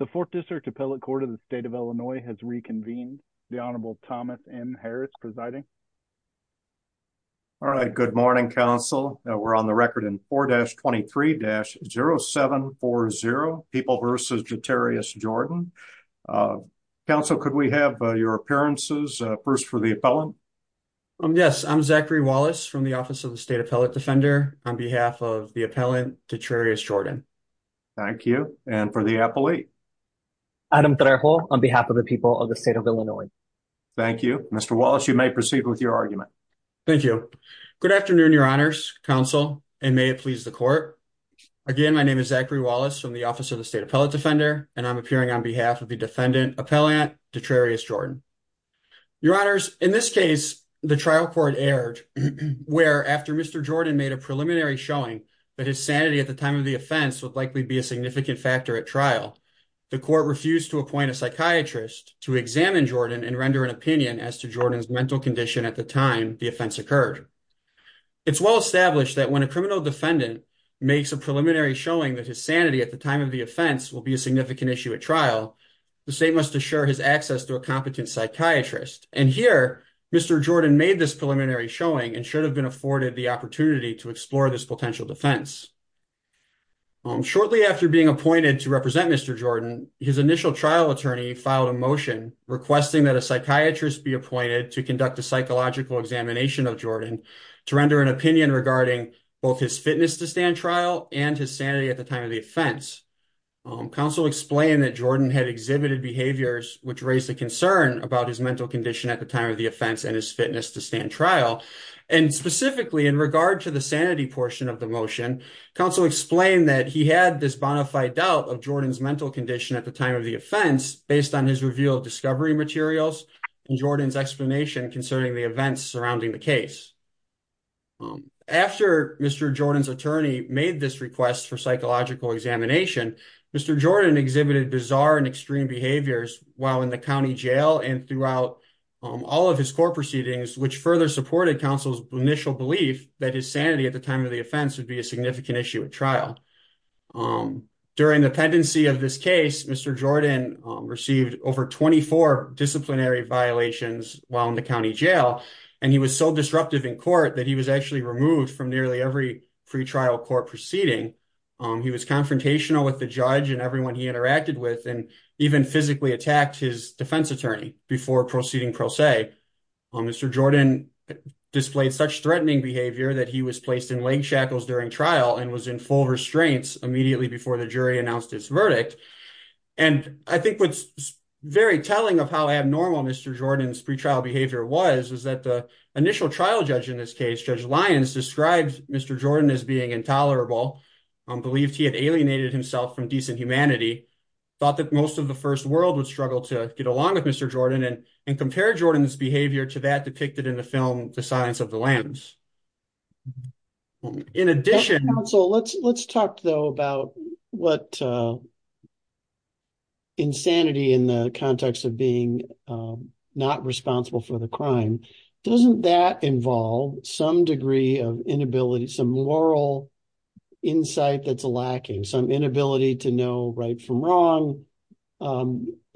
The 4th District Appellate Court of the State of Illinois has reconvened. The Honorable Thomas M. Harris presiding. All right, good morning, Counsel. We're on the record in 4-23-0740, People v. Jotarius Jordan. Counsel, could we have your appearances first for the appellant? Yes, I'm Zachary Wallace from the Office of the State Appellate Defender on behalf of the appellant, Jotarius Jordan. Thank you. And for the appellee? Adam Trejo on behalf of the People of the State of Illinois. Thank you. Mr. Wallace, you may proceed with your argument. Thank you. Good afternoon, Your Honors, Counsel, and may it please the Court. Again, my name is Zachary Wallace from the Office of the State Appellate Defender, and I'm appearing on behalf of the defendant, Appellant Jotarius Jordan. Your Honors, in this case, the trial court erred where, after Mr. Jordan made a preliminary showing that his sanity at the time of the offense would likely be a significant factor at trial, the court refused to appoint a psychiatrist to examine Jordan and render an opinion as to Jordan's mental condition at the time the offense occurred. It's well established that when a criminal defendant makes a preliminary showing that his sanity at the time of the offense will be a significant issue at trial, the state must assure his access to a competent psychiatrist. And here, Mr. Jordan made this preliminary showing and should have been afforded the opportunity to explore this potential defense. Shortly after being appointed to represent Mr. Jordan, his initial trial attorney filed a motion requesting that a psychiatrist be appointed to conduct a psychological examination of Jordan to render an opinion regarding both his fitness to stand trial and his sanity at the time of the offense. Counsel explained that Jordan had exhibited behaviors which raised a concern about his mental condition at the time of the offense and his fitness to stand trial. And specifically, in regard to the sanity portion of the motion, counsel explained that he had this bona fide doubt of Jordan's mental condition at the time of the offense based on his review of discovery materials and Jordan's explanation concerning the events surrounding the case. After Mr. Jordan's attorney made this request for psychological examination, Mr. Jordan exhibited bizarre and extreme behaviors while in the county jail and throughout all of his court proceedings, which further supported counsel's initial belief that his sanity at the time of the offense would be a significant issue at trial. During the pendency of this case, Mr. Jordan received over 24 disciplinary violations while in the county jail, and he was so disruptive in court that he was actually removed from nearly every pretrial court proceeding. He was confrontational with the judge and everyone he interacted with and even physically attacked his defense attorney before proceeding pro se. Mr. Jordan displayed such threatening behavior that he was placed in leg shackles during trial and was in full restraints immediately before the jury announced his verdict. And I think what's very telling of how abnormal Mr. Jordan's pretrial behavior was, was that the initial trial judge in this case, Judge Lyons, described Mr. Jordan as being intolerable, believed he had alienated himself from decent humanity, thought that most of the first world would struggle to get along with Mr. Jordan, and compared Jordan's behavior to that depicted in the film The Silence of the Lambs. In addition, So let's let's talk, though, about what insanity in the context of being not responsible for the crime. Doesn't that involve some degree of inability, some moral insight that's lacking, some inability to know right from wrong?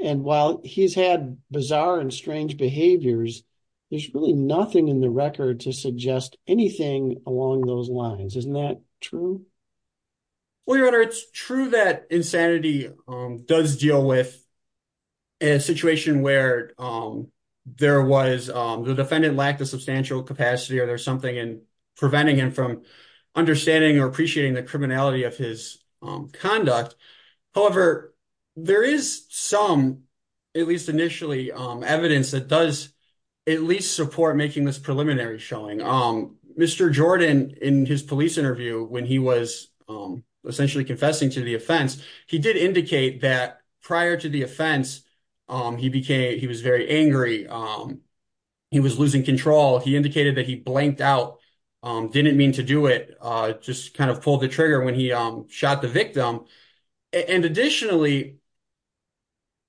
And while he's had bizarre and strange behaviors, there's really nothing in the record to suggest anything along those lines. Isn't that true? Well, Your Honor, it's true that insanity does deal with a situation where there was the defendant lacked a substantial capacity or there's something in preventing him from understanding or appreciating the criminality of his conduct. However, there is some, at least initially, evidence that does at least support making this preliminary showing. Mr. Jordan, in his police interview, when he was essentially confessing to the offense, he did indicate that prior to the offense, he became he was very angry. He was losing control. He indicated that he blanked out, didn't mean to do it. Just kind of pulled the trigger when he shot the victim. And additionally,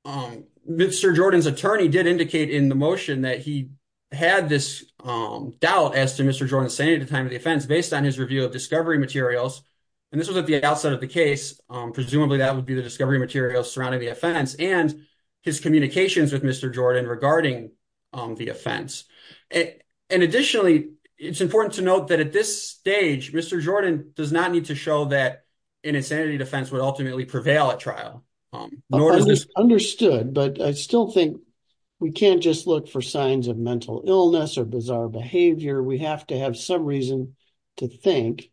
Mr. Jordan's attorney did indicate in the motion that he had this doubt as to Mr. Jordan's sanity at the time of the offense based on his review of discovery materials. And this was at the outset of the case. Presumably, that would be the discovery materials surrounding the offense and his communications with Mr. Jordan regarding the offense. And additionally, it's important to note that at this stage, Mr. Jordan does not need to show that an insanity defense would ultimately prevail at trial. Understood, but I still think we can't just look for signs of mental illness or bizarre behavior. We have to have some reason to think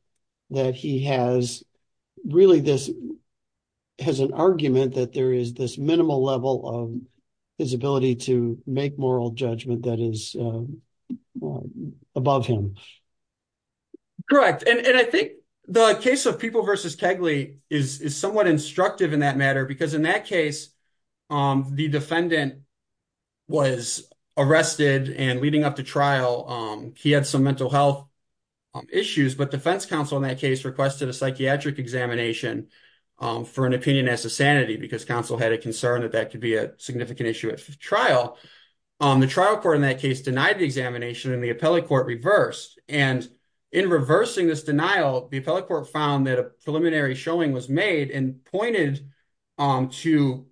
that he has really this has an argument that there is this minimal level of his ability to make moral judgment that is above him. Correct. And I think the case of People v. Kegley is somewhat instructive in that matter, because in that case, the defendant was arrested and leading up to trial. He had some mental health issues, but defense counsel in that case requested a psychiatric examination for an opinion as to sanity because counsel had a concern that that could be a significant issue at trial. The trial court in that case denied the examination and the appellate court reversed. And in reversing this denial, the appellate court found that a preliminary showing was made and pointed to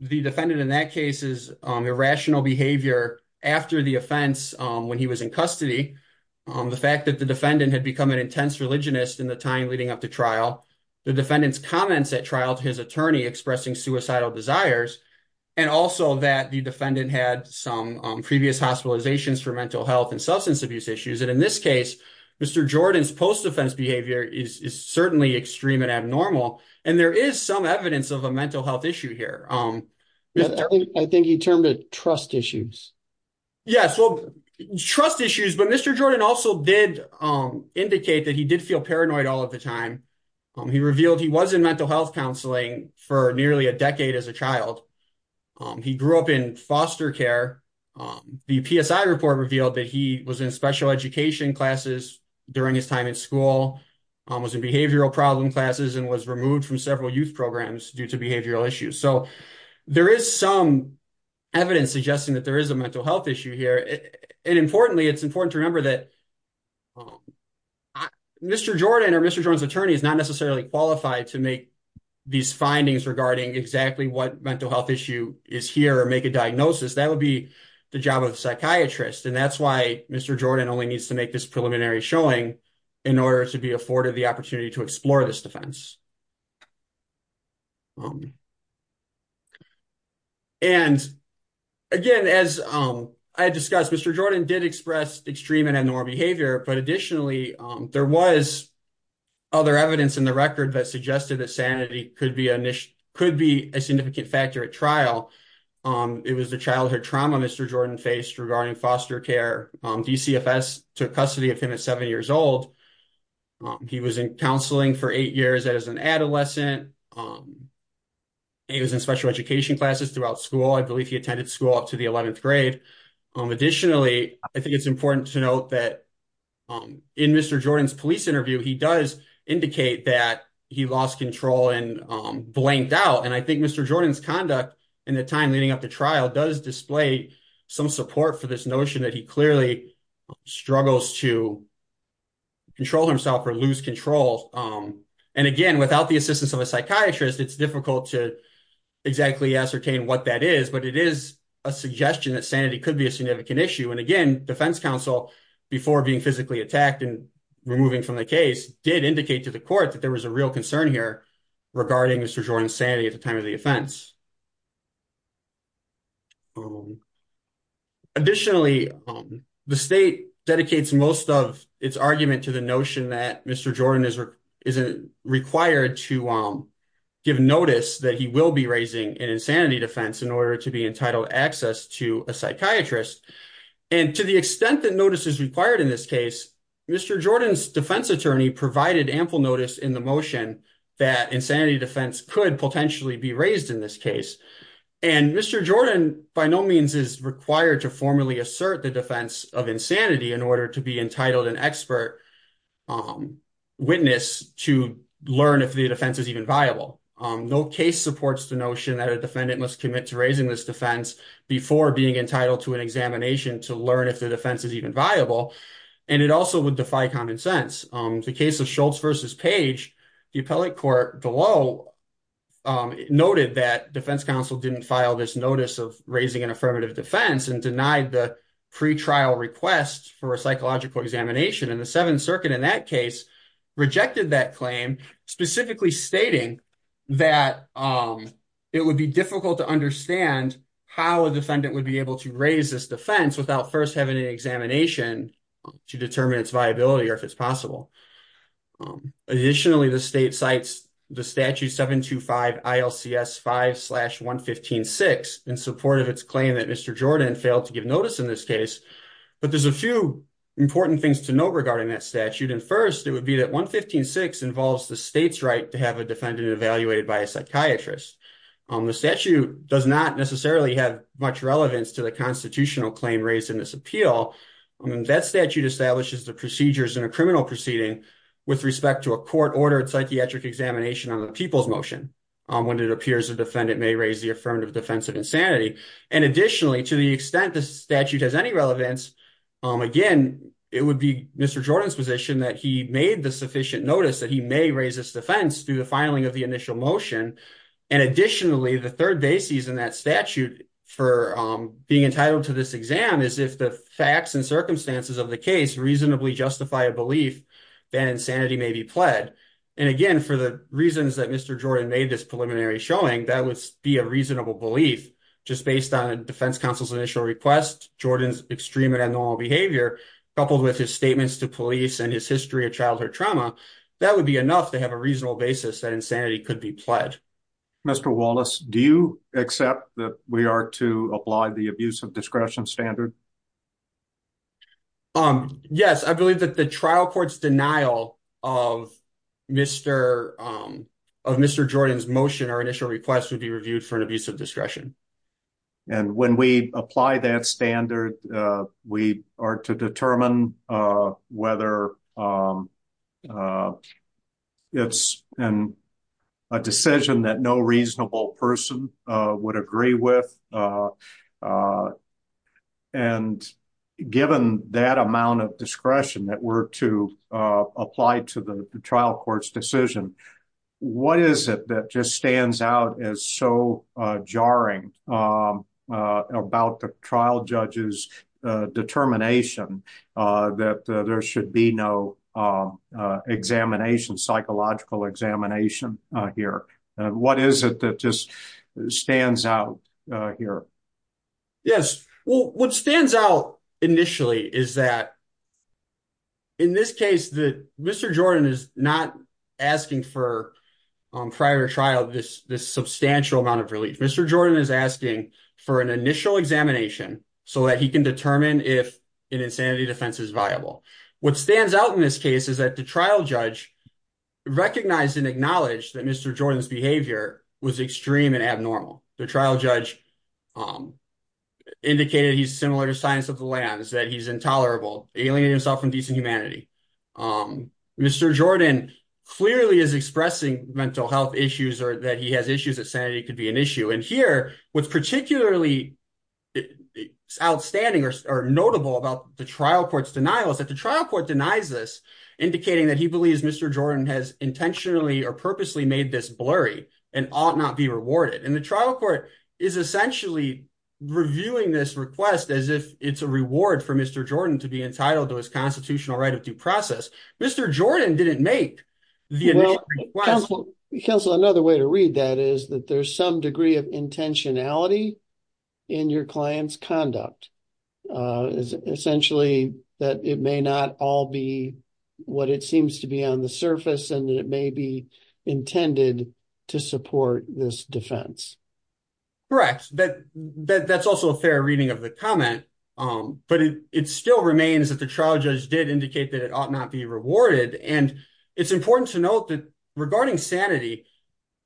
the defendant in that case's irrational behavior after the offense when he was in custody. The fact that the defendant had become an intense religionist in the time leading up to trial, the defendant's comments at trial to his attorney expressing suicidal desires, and also that the defendant had some previous hospitalizations for mental health and substance abuse issues. And in this case, Mr. Jordan's post-defense behavior is certainly extreme and abnormal. And there is some evidence of a mental health issue here. I think he termed it trust issues. Yes, well, trust issues, but Mr. Jordan also did indicate that he did feel paranoid all of the time. He revealed he was in mental health counseling for nearly a decade as a child. He grew up in foster care. The PSI report revealed that he was in special education classes during his time in school, was in behavioral problem classes, and was removed from several youth programs due to behavioral issues. So there is some evidence suggesting that there is a mental health issue here. And importantly, it's important to remember that Mr. Jordan or Mr. Jordan's attorney is not necessarily qualified to make these findings regarding exactly what mental health issue is here or make a diagnosis. That would be the job of the psychiatrist, and that's why Mr. Jordan only needs to make this preliminary showing in order to be afforded the opportunity to explore this defense. And, again, as I discussed, Mr. Jordan did express extreme and abnormal behavior, but additionally, there was other evidence in the record that suggested that sanity could be a significant factor at trial. It was the childhood trauma Mr. Jordan faced regarding foster care. DCFS took custody of him at seven years old. He was in counseling for eight years as an adolescent. He was in special education classes throughout school. I believe he attended school up to the 11th grade. Additionally, I think it's important to note that in Mr. Jordan's police interview, he does indicate that he lost control and blanked out. And I think Mr. Jordan's conduct in the time leading up to trial does display some support for this notion that he clearly struggles to control himself or lose control. And, again, without the assistance of a psychiatrist, it's difficult to exactly ascertain what that is, but it is a suggestion that sanity could be a significant issue. And, again, defense counsel, before being physically attacked and removing from the case, did indicate to the court that there was a real concern here regarding Mr. Jordan's sanity at the time of the offense. Additionally, the state dedicates most of its argument to the notion that Mr. Jordan is required to give notice that he will be raising an insanity defense in order to be entitled access to a psychiatrist. And to the extent that notice is required in this case, Mr. Jordan's defense attorney provided ample notice in the motion that insanity defense could potentially be raised in this case. And Mr. Jordan by no means is required to formally assert the defense of insanity in order to be entitled an expert witness to learn if the defense is even viable. No case supports the notion that a defendant must commit to raising this defense before being entitled to an examination to learn if the defense is even viable. And it also would defy common sense. The case of Schultz v. Page, the appellate court below noted that defense counsel didn't file this notice of raising an affirmative defense and denied the pretrial request for a psychological examination. And the Seventh Circuit in that case rejected that claim, specifically stating that it would be difficult to understand how a defendant would be able to raise this defense without first having an examination to determine its viability or if it's possible. Additionally, the state cites the statute 725 ILCS 5-115-6 in support of its claim that Mr. Jordan failed to give notice in this case. But there's a few important things to note regarding that statute. And first, it would be that 115-6 involves the state's right to have a defendant evaluated by a psychiatrist. The statute does not necessarily have much relevance to the constitutional claim raised in this appeal. That statute establishes the procedures in a criminal proceeding with respect to a court-ordered psychiatric examination on the people's motion when it appears a defendant may raise the affirmative defense of insanity. And additionally, to the extent the statute has any relevance, again, it would be Mr. Jordan's position that he made the sufficient notice that he may raise this defense through the filing of the initial motion. And additionally, the third basis in that statute for being entitled to this exam is if the facts and circumstances of the case reasonably justify a belief that insanity may be pled. And again, for the reasons that Mr. Jordan made this preliminary showing, that would be a reasonable belief. Just based on defense counsel's initial request, Jordan's extreme and abnormal behavior, coupled with his statements to police and his history of childhood trauma, that would be enough to have a reasonable basis that insanity could be pled. Mr. Wallace, do you accept that we are to apply the abuse of discretion standard? Yes, I believe that the trial court's denial of Mr. Jordan's motion or initial request would be reviewed for an abuse of discretion. And when we apply that standard, we are to determine whether it's a decision that no reasonable person would agree with. And given that amount of discretion that we're to apply to the trial court's decision, what is it that just stands out as so jarring about the trial judge's determination that there should be no examination, psychological examination here? What is it that just stands out here? Yes, well, what stands out initially is that in this case that Mr. Jordan is not asking for prior trial this substantial amount of relief. Mr. Jordan is asking for an initial examination so that he can determine if an insanity defense is viable. What stands out in this case is that the trial judge recognized and acknowledged that Mr. Jordan's behavior was extreme and abnormal. The trial judge indicated he's similar to science of the lands, that he's intolerable, alienating himself from decent humanity. Mr. Jordan clearly is expressing mental health issues or that he has issues that sanity could be an issue. And here what's particularly outstanding or notable about the trial court's denial is that the trial court denies this, indicating that he believes Mr. Jordan has intentionally or purposely made this blurry and ought not be rewarded. And the trial court is essentially reviewing this request as if it's a reward for Mr. Jordan to be entitled to his constitutional right of due process. Mr. Jordan didn't make the initial request. Counsel, another way to read that is that there's some degree of intentionality in your client's conduct is essentially that it may not all be what it seems to be on the surface and it may be intended to support this defense. Correct, but that's also a fair reading of the comment. But it still remains that the trial judge did indicate that it ought not be rewarded. And it's important to note that regarding sanity,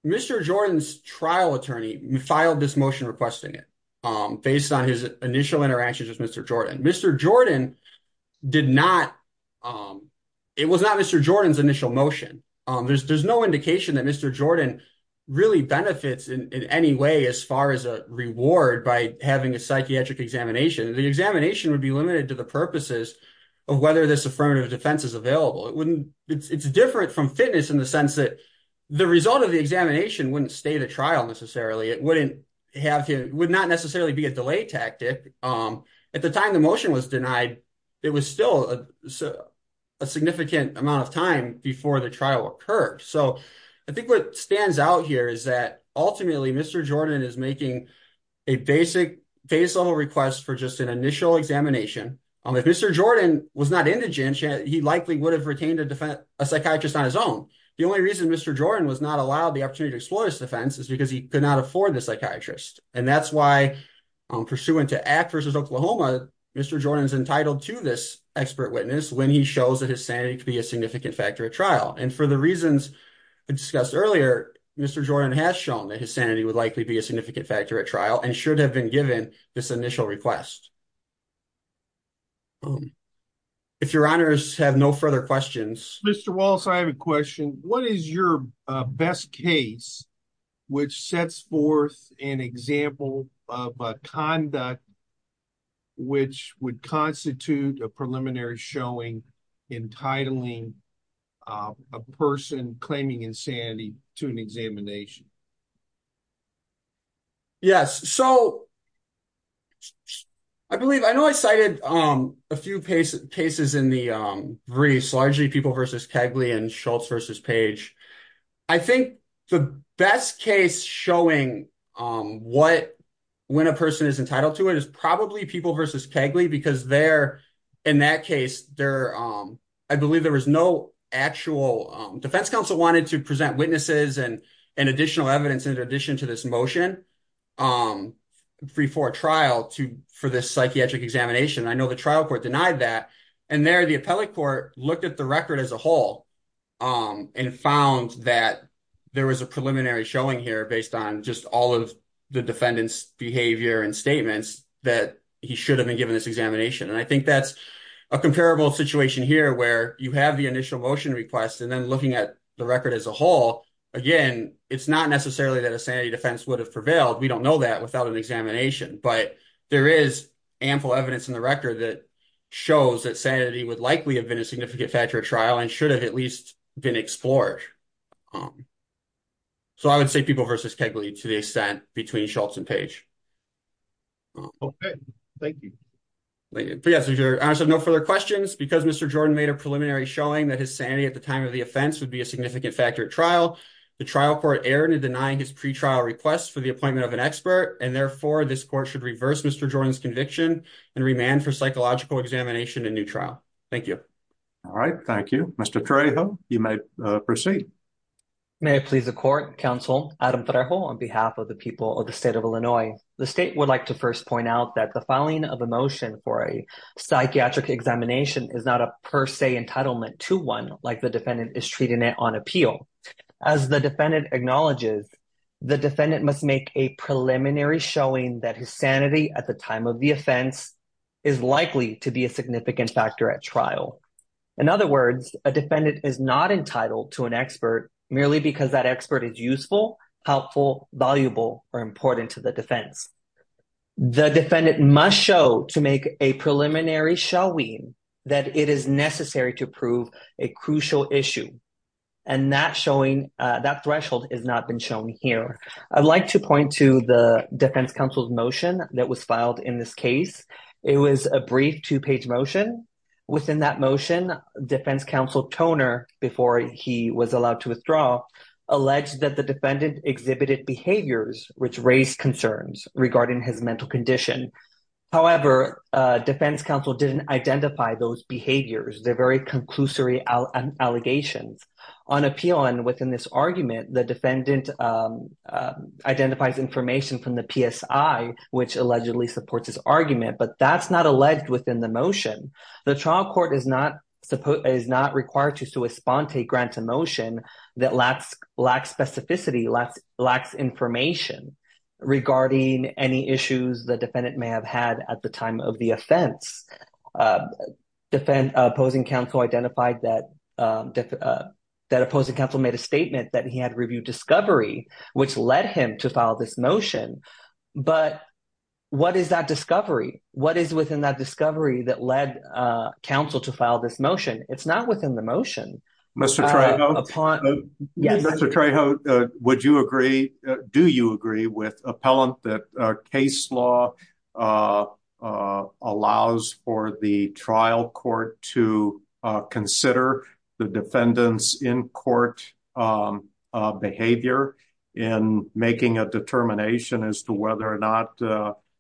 Mr. Jordan's trial attorney filed this motion requesting it based on his initial interactions with Mr. Jordan. Mr. Jordan did not. It was not Mr. Jordan's initial motion. There's no indication that Mr. Jordan really benefits in any way as far as a reward by having a psychiatric examination. The examination would be limited to the purposes of whether this affirmative defense is available. It's different from fitness in the sense that the result of the examination wouldn't stay the trial necessarily. It would not necessarily be a delay tactic. At the time the motion was denied, it was still a significant amount of time before the trial occurred. So I think what stands out here is that ultimately Mr. Jordan is making a basic base level request for just an initial examination. If Mr. Jordan was not indigent, he likely would have retained a psychiatrist on his own. The only reason Mr. Jordan was not allowed the opportunity to explore this defense is because he could not afford the psychiatrist. And that's why, pursuant to ACT v. Oklahoma, Mr. Jordan is entitled to this expert witness when he shows that his sanity could be a significant factor at trial. And for the reasons discussed earlier, Mr. Jordan has shown that his sanity would likely be a significant factor at trial and should have been given this initial request. If your honors have no further questions. Mr. Wallace, I have a question. What is your best case which sets forth an example of a conduct which would constitute a preliminary showing entitling a person claiming insanity to an examination? Yes, so I believe I know I cited a few cases in the briefs, largely People v. Kegley and Schultz v. Page. I think the best case showing when a person is entitled to it is probably People v. Kegley because there, in that case, I believe there was no actual defense counsel wanted to present witnesses and additional evidence in addition to this motion before trial for this psychiatric examination. I know the trial court denied that. And there, the appellate court looked at the record as a whole and found that there was a preliminary showing here based on just all of the defendant's behavior and statements that he should have been given this examination. And I think that's a comparable situation here where you have the initial motion request and then looking at the record as a whole. Again, it's not necessarily that a sanity defense would have prevailed. We don't know that without an examination. But there is ample evidence in the record that shows that sanity would likely have been a significant factor at trial and should have at least been explored. So I would say People v. Kegley to the extent between Schultz and Page. Okay, thank you. Yes, there are no further questions. Because Mr. Jordan made a preliminary showing that his sanity at the time of the offense would be a significant factor at trial, the trial court erred in denying his pre-trial request for the appointment of an expert. And therefore, this court should reverse Mr. Jordan's conviction and remand for psychological examination and new trial. Thank you. All right. Thank you, Mr. Trejo. You may proceed. May it please the court, Counsel Adam Trejo, on behalf of the people of the state of Illinois. The state would like to first point out that the filing of a motion for a psychiatric examination is not a per se entitlement to one like the defendant is treating it on appeal. As the defendant acknowledges, the defendant must make a preliminary showing that his sanity at the time of the offense is likely to be a significant factor at trial. In other words, a defendant is not entitled to an expert merely because that expert is useful, helpful, valuable, or important to the defense. The defendant must show to make a preliminary showing that it is necessary to prove a crucial issue. And that threshold has not been shown here. I'd like to point to the defense counsel's motion that was filed in this case. It was a brief two-page motion. Within that motion, defense counsel Toner, before he was allowed to withdraw, alleged that the defendant exhibited behaviors which raised concerns regarding his mental condition. However, defense counsel didn't identify those behaviors. They're very conclusory allegations. On appeal and within this argument, the defendant identifies information from the PSI, which allegedly supports his argument, but that's not alleged within the motion. The trial court is not required to respond to grant a motion that lacks specificity, lacks information regarding any issues the defendant may have had at the time of the offense. Opposing counsel made a statement that he had reviewed discovery, which led him to file this motion. But what is that discovery? What is within that discovery that led counsel to file this motion? It's not within the motion. Mr. Trejo, would you agree, do you agree with appellant that case law allows for the trial court to consider the defendant's in-court behavior in making a determination as to whether or not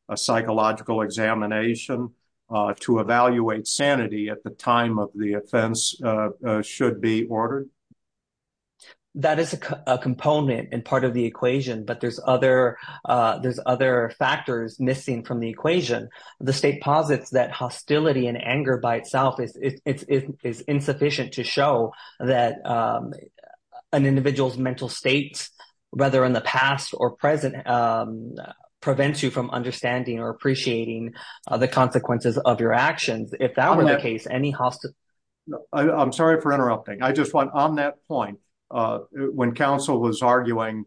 a psychological examination to evaluate sanity at the time of the offense should be ordered? That is a component and part of the equation, but there's other factors missing from the equation. The state posits that hostility and anger by itself is insufficient to show that an individual's mental state, whether in the past or present, prevents you from understanding or appreciating the consequences of your actions. I'm sorry for interrupting. On that point, when counsel was arguing,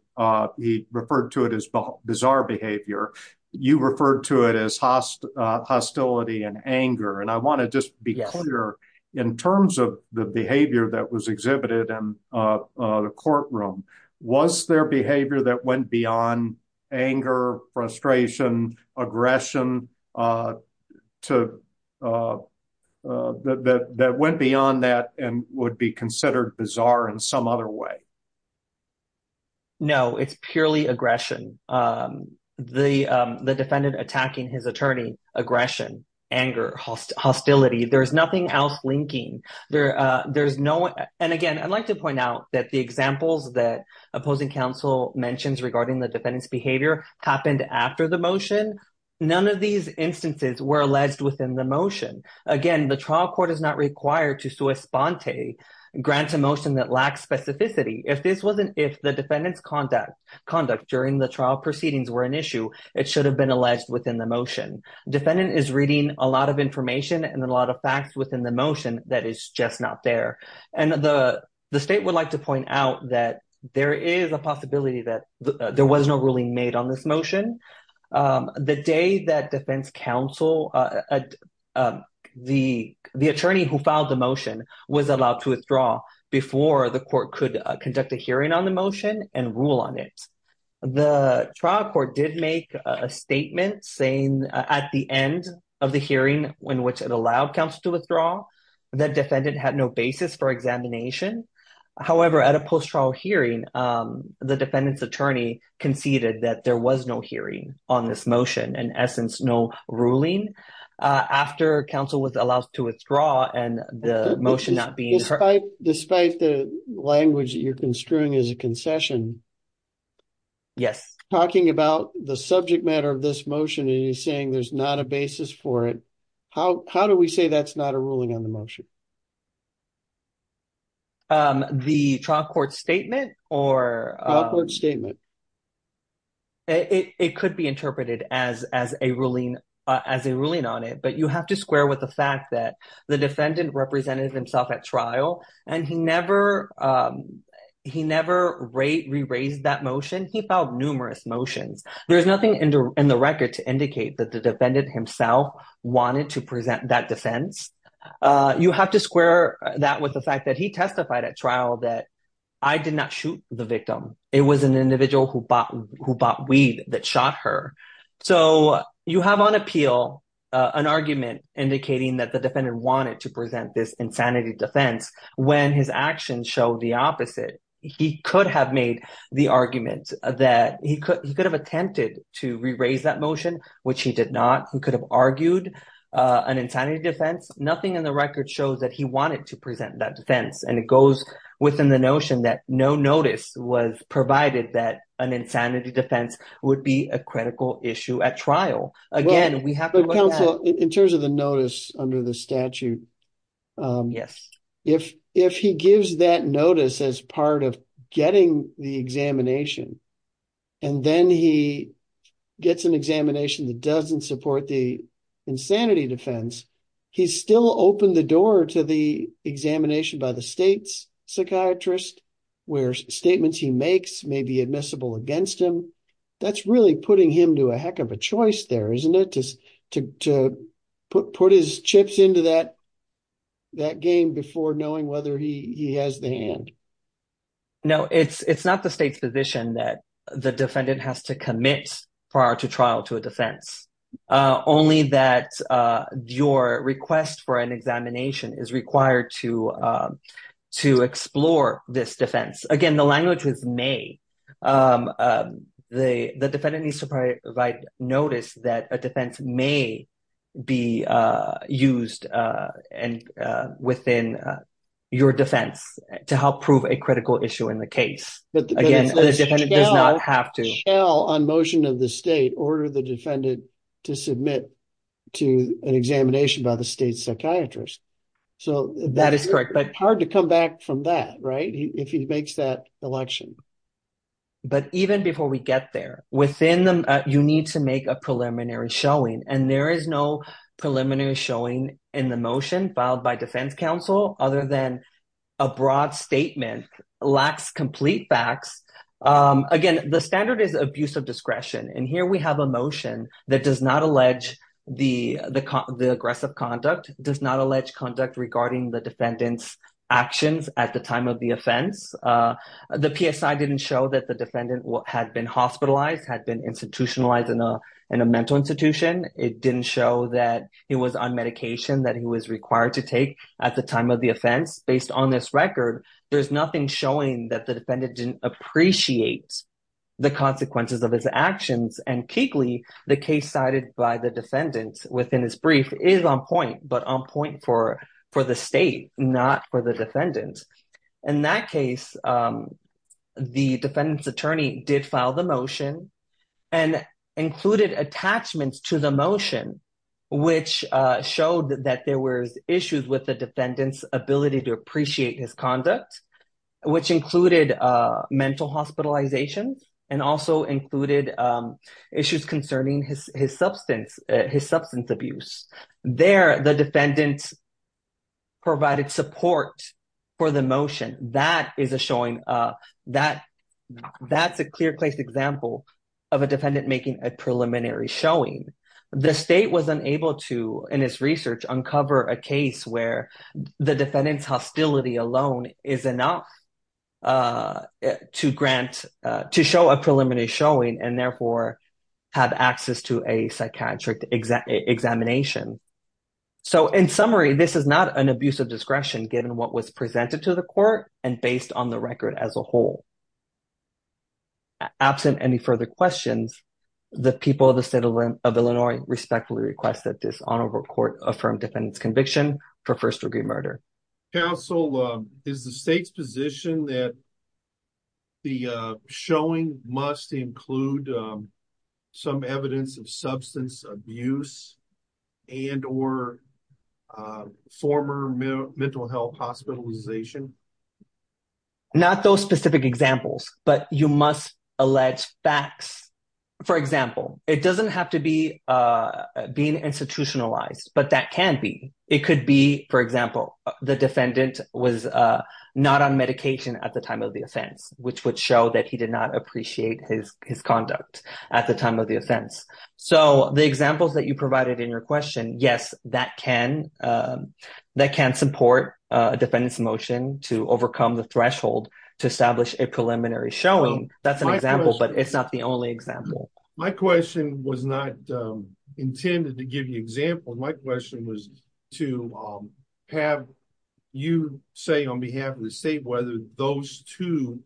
he referred to it as bizarre behavior. You referred to it as hostility and anger. In terms of the behavior that was exhibited in the courtroom, was there behavior that went beyond anger, frustration, aggression, that went beyond that and would be considered bizarre in some other way? No, it's purely aggression. The defendant attacking his attorney, aggression, anger, hostility. There's nothing else linking. And again, I'd like to point out that the examples that opposing counsel mentions regarding the defendant's behavior happened after the motion. None of these instances were alleged within the motion. Again, the trial court is not required to sua sponte, grant a motion that lacks specificity. If the defendant's conduct during the trial proceedings were an issue, it should have been alleged within the motion. Defendant is reading a lot of information and a lot of facts within the motion that is just not there. And the state would like to point out that there is a possibility that there was no ruling made on this motion. The day that defense counsel, the attorney who filed the motion, was allowed to withdraw before the court could conduct a hearing on the motion and rule on it. The trial court did make a statement saying at the end of the hearing, in which it allowed counsel to withdraw, that defendant had no basis for examination. However, at a post-trial hearing, the defendant's attorney conceded that there was no hearing on this motion. In essence, no ruling after counsel was allowed to withdraw and the motion not being heard. Despite the language that you're construing as a concession, talking about the subject matter of this motion and you're saying there's not a basis for it, how do we say that's not a ruling on the motion? The trial court statement? The trial court statement. It could be interpreted as a ruling on it, but you have to square with the fact that the defendant represented himself at trial and he never re-raised that motion. He filed numerous motions. There's nothing in the record to indicate that the defendant himself wanted to present that defense. You have to square that with the fact that he testified at trial that I did not shoot the victim. It was an individual who bought weed that shot her. So you have on appeal an argument indicating that the defendant wanted to present this insanity defense when his actions show the opposite. He could have made the argument that he could have attempted to re-raise that motion, which he did not. He could have argued an insanity defense. Nothing in the record shows that he wanted to present that defense, and it goes within the notion that no notice was provided that an insanity defense would be a critical issue at trial. Counsel, in terms of the notice under the statute, if he gives that notice as part of getting the examination, and then he gets an examination that doesn't support the insanity defense, he still opened the door to the examination by the state's psychiatrist, where statements he makes may be admissible against him. That's really putting him to a heck of a choice there, isn't it, to put his chips into that game before knowing whether he has the hand? No, it's not the state's position that the defendant has to commit prior to trial to a defense. Only that your request for an examination is required to explore this defense. Again, the language was may. The defendant needs to provide notice that a defense may be used within your defense to help prove a critical issue in the case. Again, the defendant does not have to. On motion of the state order the defendant to submit to an examination by the state's psychiatrist. So, that is correct, but hard to come back from that right if he makes that election. But even before we get there, within them, you need to make a preliminary showing. And there is no preliminary showing in the motion filed by defense counsel other than a broad statement lacks complete facts. Again, the standard is abuse of discretion. And here we have a motion that does not allege the aggressive conduct, does not allege conduct regarding the defendant's actions at the time of the offense. The PSI didn't show that the defendant had been hospitalized, had been institutionalized in a mental institution. It didn't show that he was on medication that he was required to take at the time of the offense. Based on this record, there's nothing showing that the defendant didn't appreciate the consequences of his actions. And, keyly, the case cited by the defendant within his brief is on point, but on point for the state, not for the defendant. In that case, the defendant's attorney did file the motion and included attachments to the motion, which showed that there were issues with the defendant's ability to appreciate his conduct, which included mental hospitalization and also included issues concerning his substance abuse. There, the defendant provided support for the motion. That is a showing, that's a clear-placed example of a defendant making a preliminary showing. The state was unable to, in its research, uncover a case where the defendant's hostility alone is enough to show a preliminary showing and, therefore, have access to a psychiatric examination. So, in summary, this is not an abuse of discretion, given what was presented to the court and based on the record as a whole. Absent any further questions, the people of the state of Illinois respectfully request that this honorable court affirm defendant's conviction for first-degree murder. Counsel, is the state's position that the showing must include some evidence of substance abuse and or former mental health hospitalization? Not those specific examples, but you must allege facts. For example, it doesn't have to be being institutionalized, but that can be. It could be, for example, the defendant was not on medication at the time of the offense, which would show that he did not appreciate his conduct at the time of the offense. So, the examples that you provided in your question, yes, that can support a defendant's motion to overcome the threshold to establish a preliminary showing. That's an example, but it's not the only example. My question was not intended to give you examples. My question was to have you say on behalf of the state whether those two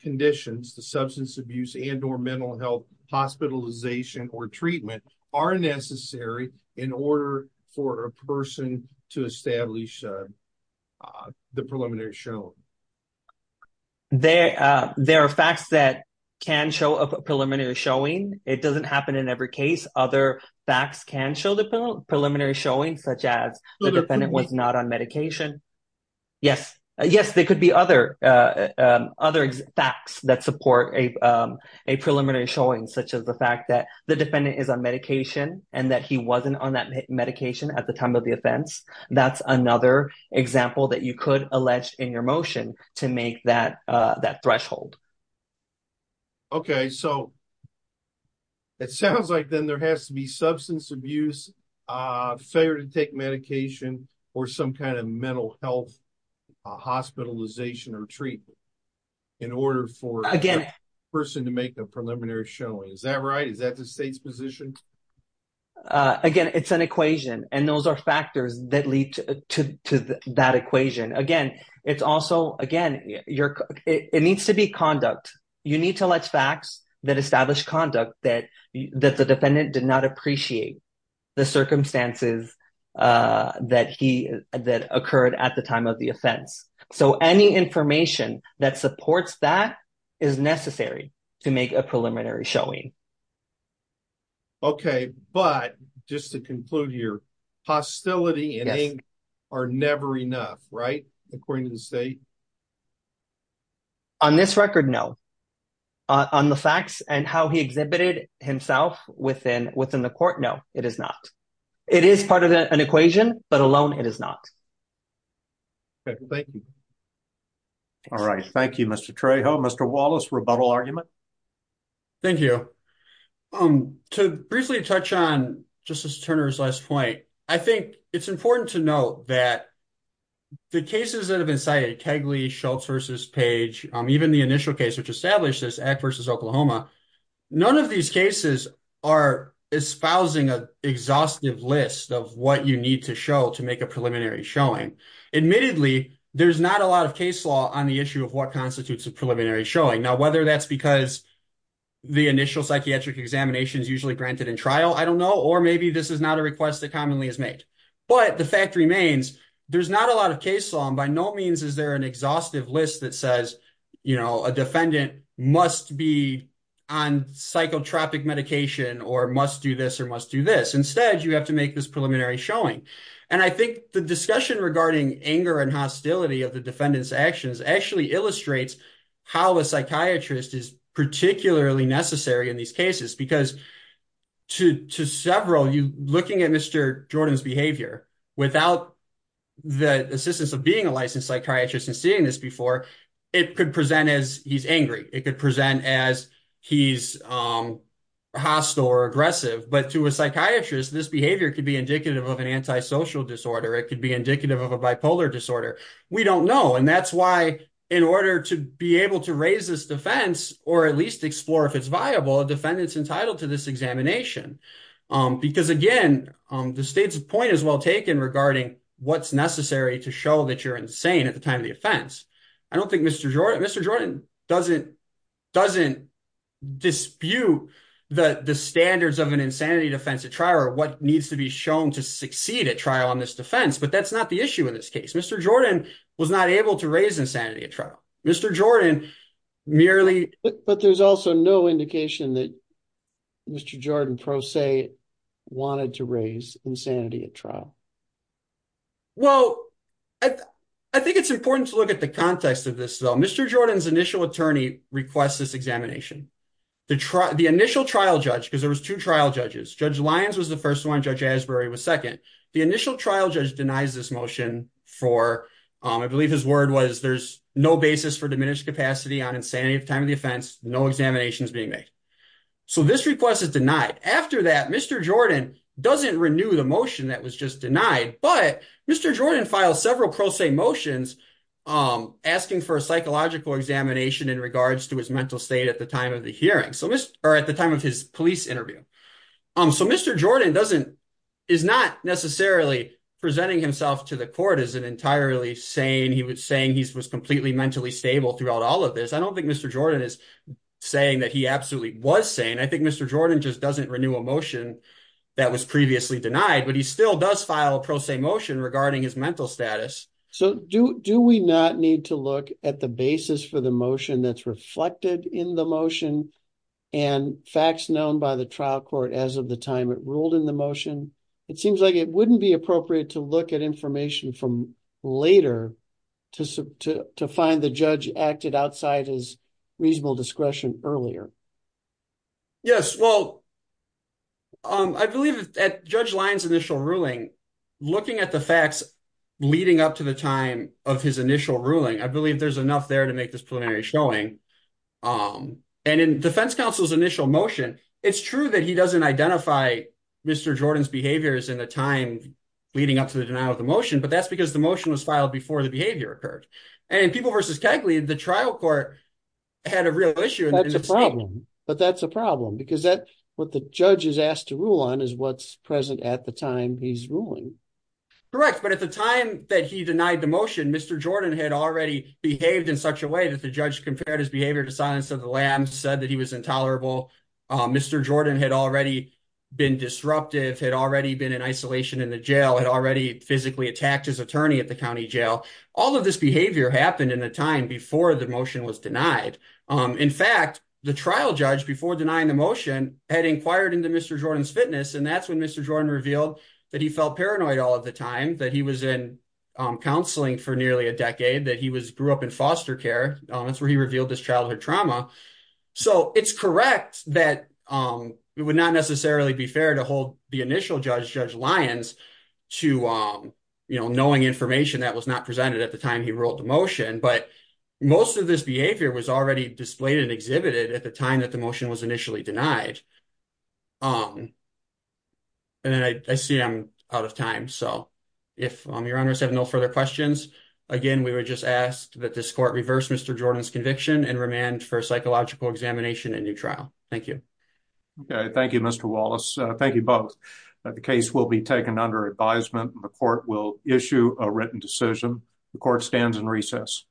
conditions, the substance abuse and or mental health hospitalization or treatment, are necessary in order for a person to establish the preliminary showing. There are facts that can show a preliminary showing. It doesn't happen in every case. Other facts can show the preliminary showing, such as the defendant was not on medication. Yes, there could be other facts that support a preliminary showing, such as the fact that the defendant is on medication and that he wasn't on that medication at the time of the offense. That's another example that you could allege in your motion to make that threshold. Okay, so it sounds like then there has to be substance abuse, failure to take medication, or some kind of mental health hospitalization or treatment in order for a person to make a preliminary showing. Is that right? Is that the state's position? Again, it's an equation, and those are factors that lead to that equation. Again, it's also, again, it needs to be conduct. You need to let facts that establish conduct that the defendant did not appreciate the circumstances that occurred at the time of the offense. So any information that supports that is necessary to make a preliminary showing. Okay, but just to conclude here, hostility and anger are never enough, right, according to the state? On this record, no. On the facts and how he exhibited himself within the court, no, it is not. It is part of an equation, but alone it is not. Okay, thank you. All right, thank you, Mr. Trejo. Mr. Wallace, rebuttal argument? Thank you. To briefly touch on Justice Turner's last point, I think it's important to note that the cases that have been cited, Kegley, Schultz v. Page, even the initial case which established this, Act v. Oklahoma, none of these cases are espousing an exhaustive list of what you need to show to make a preliminary showing. Admittedly, there's not a lot of case law on the issue of what constitutes a preliminary showing. Now, whether that's because the initial psychiatric examination is usually granted in trial, I don't know, or maybe this is not a request that commonly is made. But the fact remains, there's not a lot of case law, and by no means is there an exhaustive list that says, you know, a defendant must be on psychotropic medication or must do this or must do this. Instead, you have to make this preliminary showing. And I think the discussion regarding anger and hostility of the defendant's actions actually illustrates how a psychiatrist is particularly necessary in these cases, because to several, looking at Mr. Jordan's behavior, without the assistance of being a licensed psychiatrist and seeing this before, it could present as he's angry. It could present as he's hostile or aggressive. But to a psychiatrist, this behavior could be indicative of an antisocial disorder. It could be indicative of a bipolar disorder. We don't know. And that's why, in order to be able to raise this defense or at least explore if it's viable, a defendant's entitled to this examination. Because, again, the state's point is well taken regarding what's necessary to show that you're insane at the time of the offense. I don't think Mr. Jordan doesn't dispute the standards of an insanity defense at trial or what needs to be shown to succeed at trial on this defense. But that's not the issue in this case. Mr. Jordan was not able to raise insanity at trial. Mr. Jordan merely… But there's also no indication that Mr. Jordan, pro se, wanted to raise insanity at trial. Well, I think it's important to look at the context of this, though. Mr. Jordan's initial attorney requests this examination. The initial trial judge, because there was two trial judges. Judge Lyons was the first one. Judge Asbury was second. The initial trial judge denies this motion for… I believe his word was there's no basis for diminished capacity on insanity at the time of the offense. No examinations being made. So this request is denied. After that, Mr. Jordan doesn't renew the motion that was just denied. But Mr. Jordan filed several pro se motions asking for a psychological examination in regards to his mental state at the time of the hearing or at the time of his police interview. So Mr. Jordan is not necessarily presenting himself to the court as an entirely sane. He was saying he was completely mentally stable throughout all of this. I don't think Mr. Jordan is saying that he absolutely was sane. I think Mr. Jordan just doesn't renew a motion that was previously denied. But he still does file a pro se motion regarding his mental status. So do we not need to look at the basis for the motion that's reflected in the motion and facts known by the trial court as of the time it ruled in the motion? It seems like it wouldn't be appropriate to look at information from later to find the judge acted outside his reasonable discretion earlier. Yes, well, I believe at Judge Lyon's initial ruling, looking at the facts leading up to the time of his initial ruling, I believe there's enough there to make this preliminary showing. And in defense counsel's initial motion, it's true that he doesn't identify Mr. Jordan's behaviors in the time leading up to the denial of the motion. But that's because the motion was filed before the behavior occurred. And in People v. Kegley, the trial court had a real issue. That's a problem. But that's a problem because that what the judge is asked to rule on is what's present at the time he's ruling. Correct. But at the time that he denied the motion, Mr. Jordan had already behaved in such a way that the judge compared his behavior to silence of the lamb, said that he was intolerable. Mr. Jordan had already been disruptive, had already been in isolation in the jail, had already physically attacked his attorney at the county jail. All of this behavior happened in a time before the motion was denied. In fact, the trial judge before denying the motion had inquired into Mr. Jordan's fitness. And that's when Mr. Jordan revealed that he felt paranoid all of the time, that he was in counseling for nearly a decade, that he was grew up in foster care. That's where he revealed this childhood trauma. So it's correct that it would not necessarily be fair to hold the initial judge, Judge Lyons, to knowing information that was not presented at the time he ruled the motion. But most of this behavior was already displayed and exhibited at the time that the motion was initially denied. And then I see I'm out of time. So if your honors have no further questions, again, we were just asked that this court reverse Mr. Jordan's conviction and remand for psychological examination and new trial. Thank you. Thank you, Mr. Wallace. Thank you both. The case will be taken under advisement. The court will issue a written decision. The court stands in recess.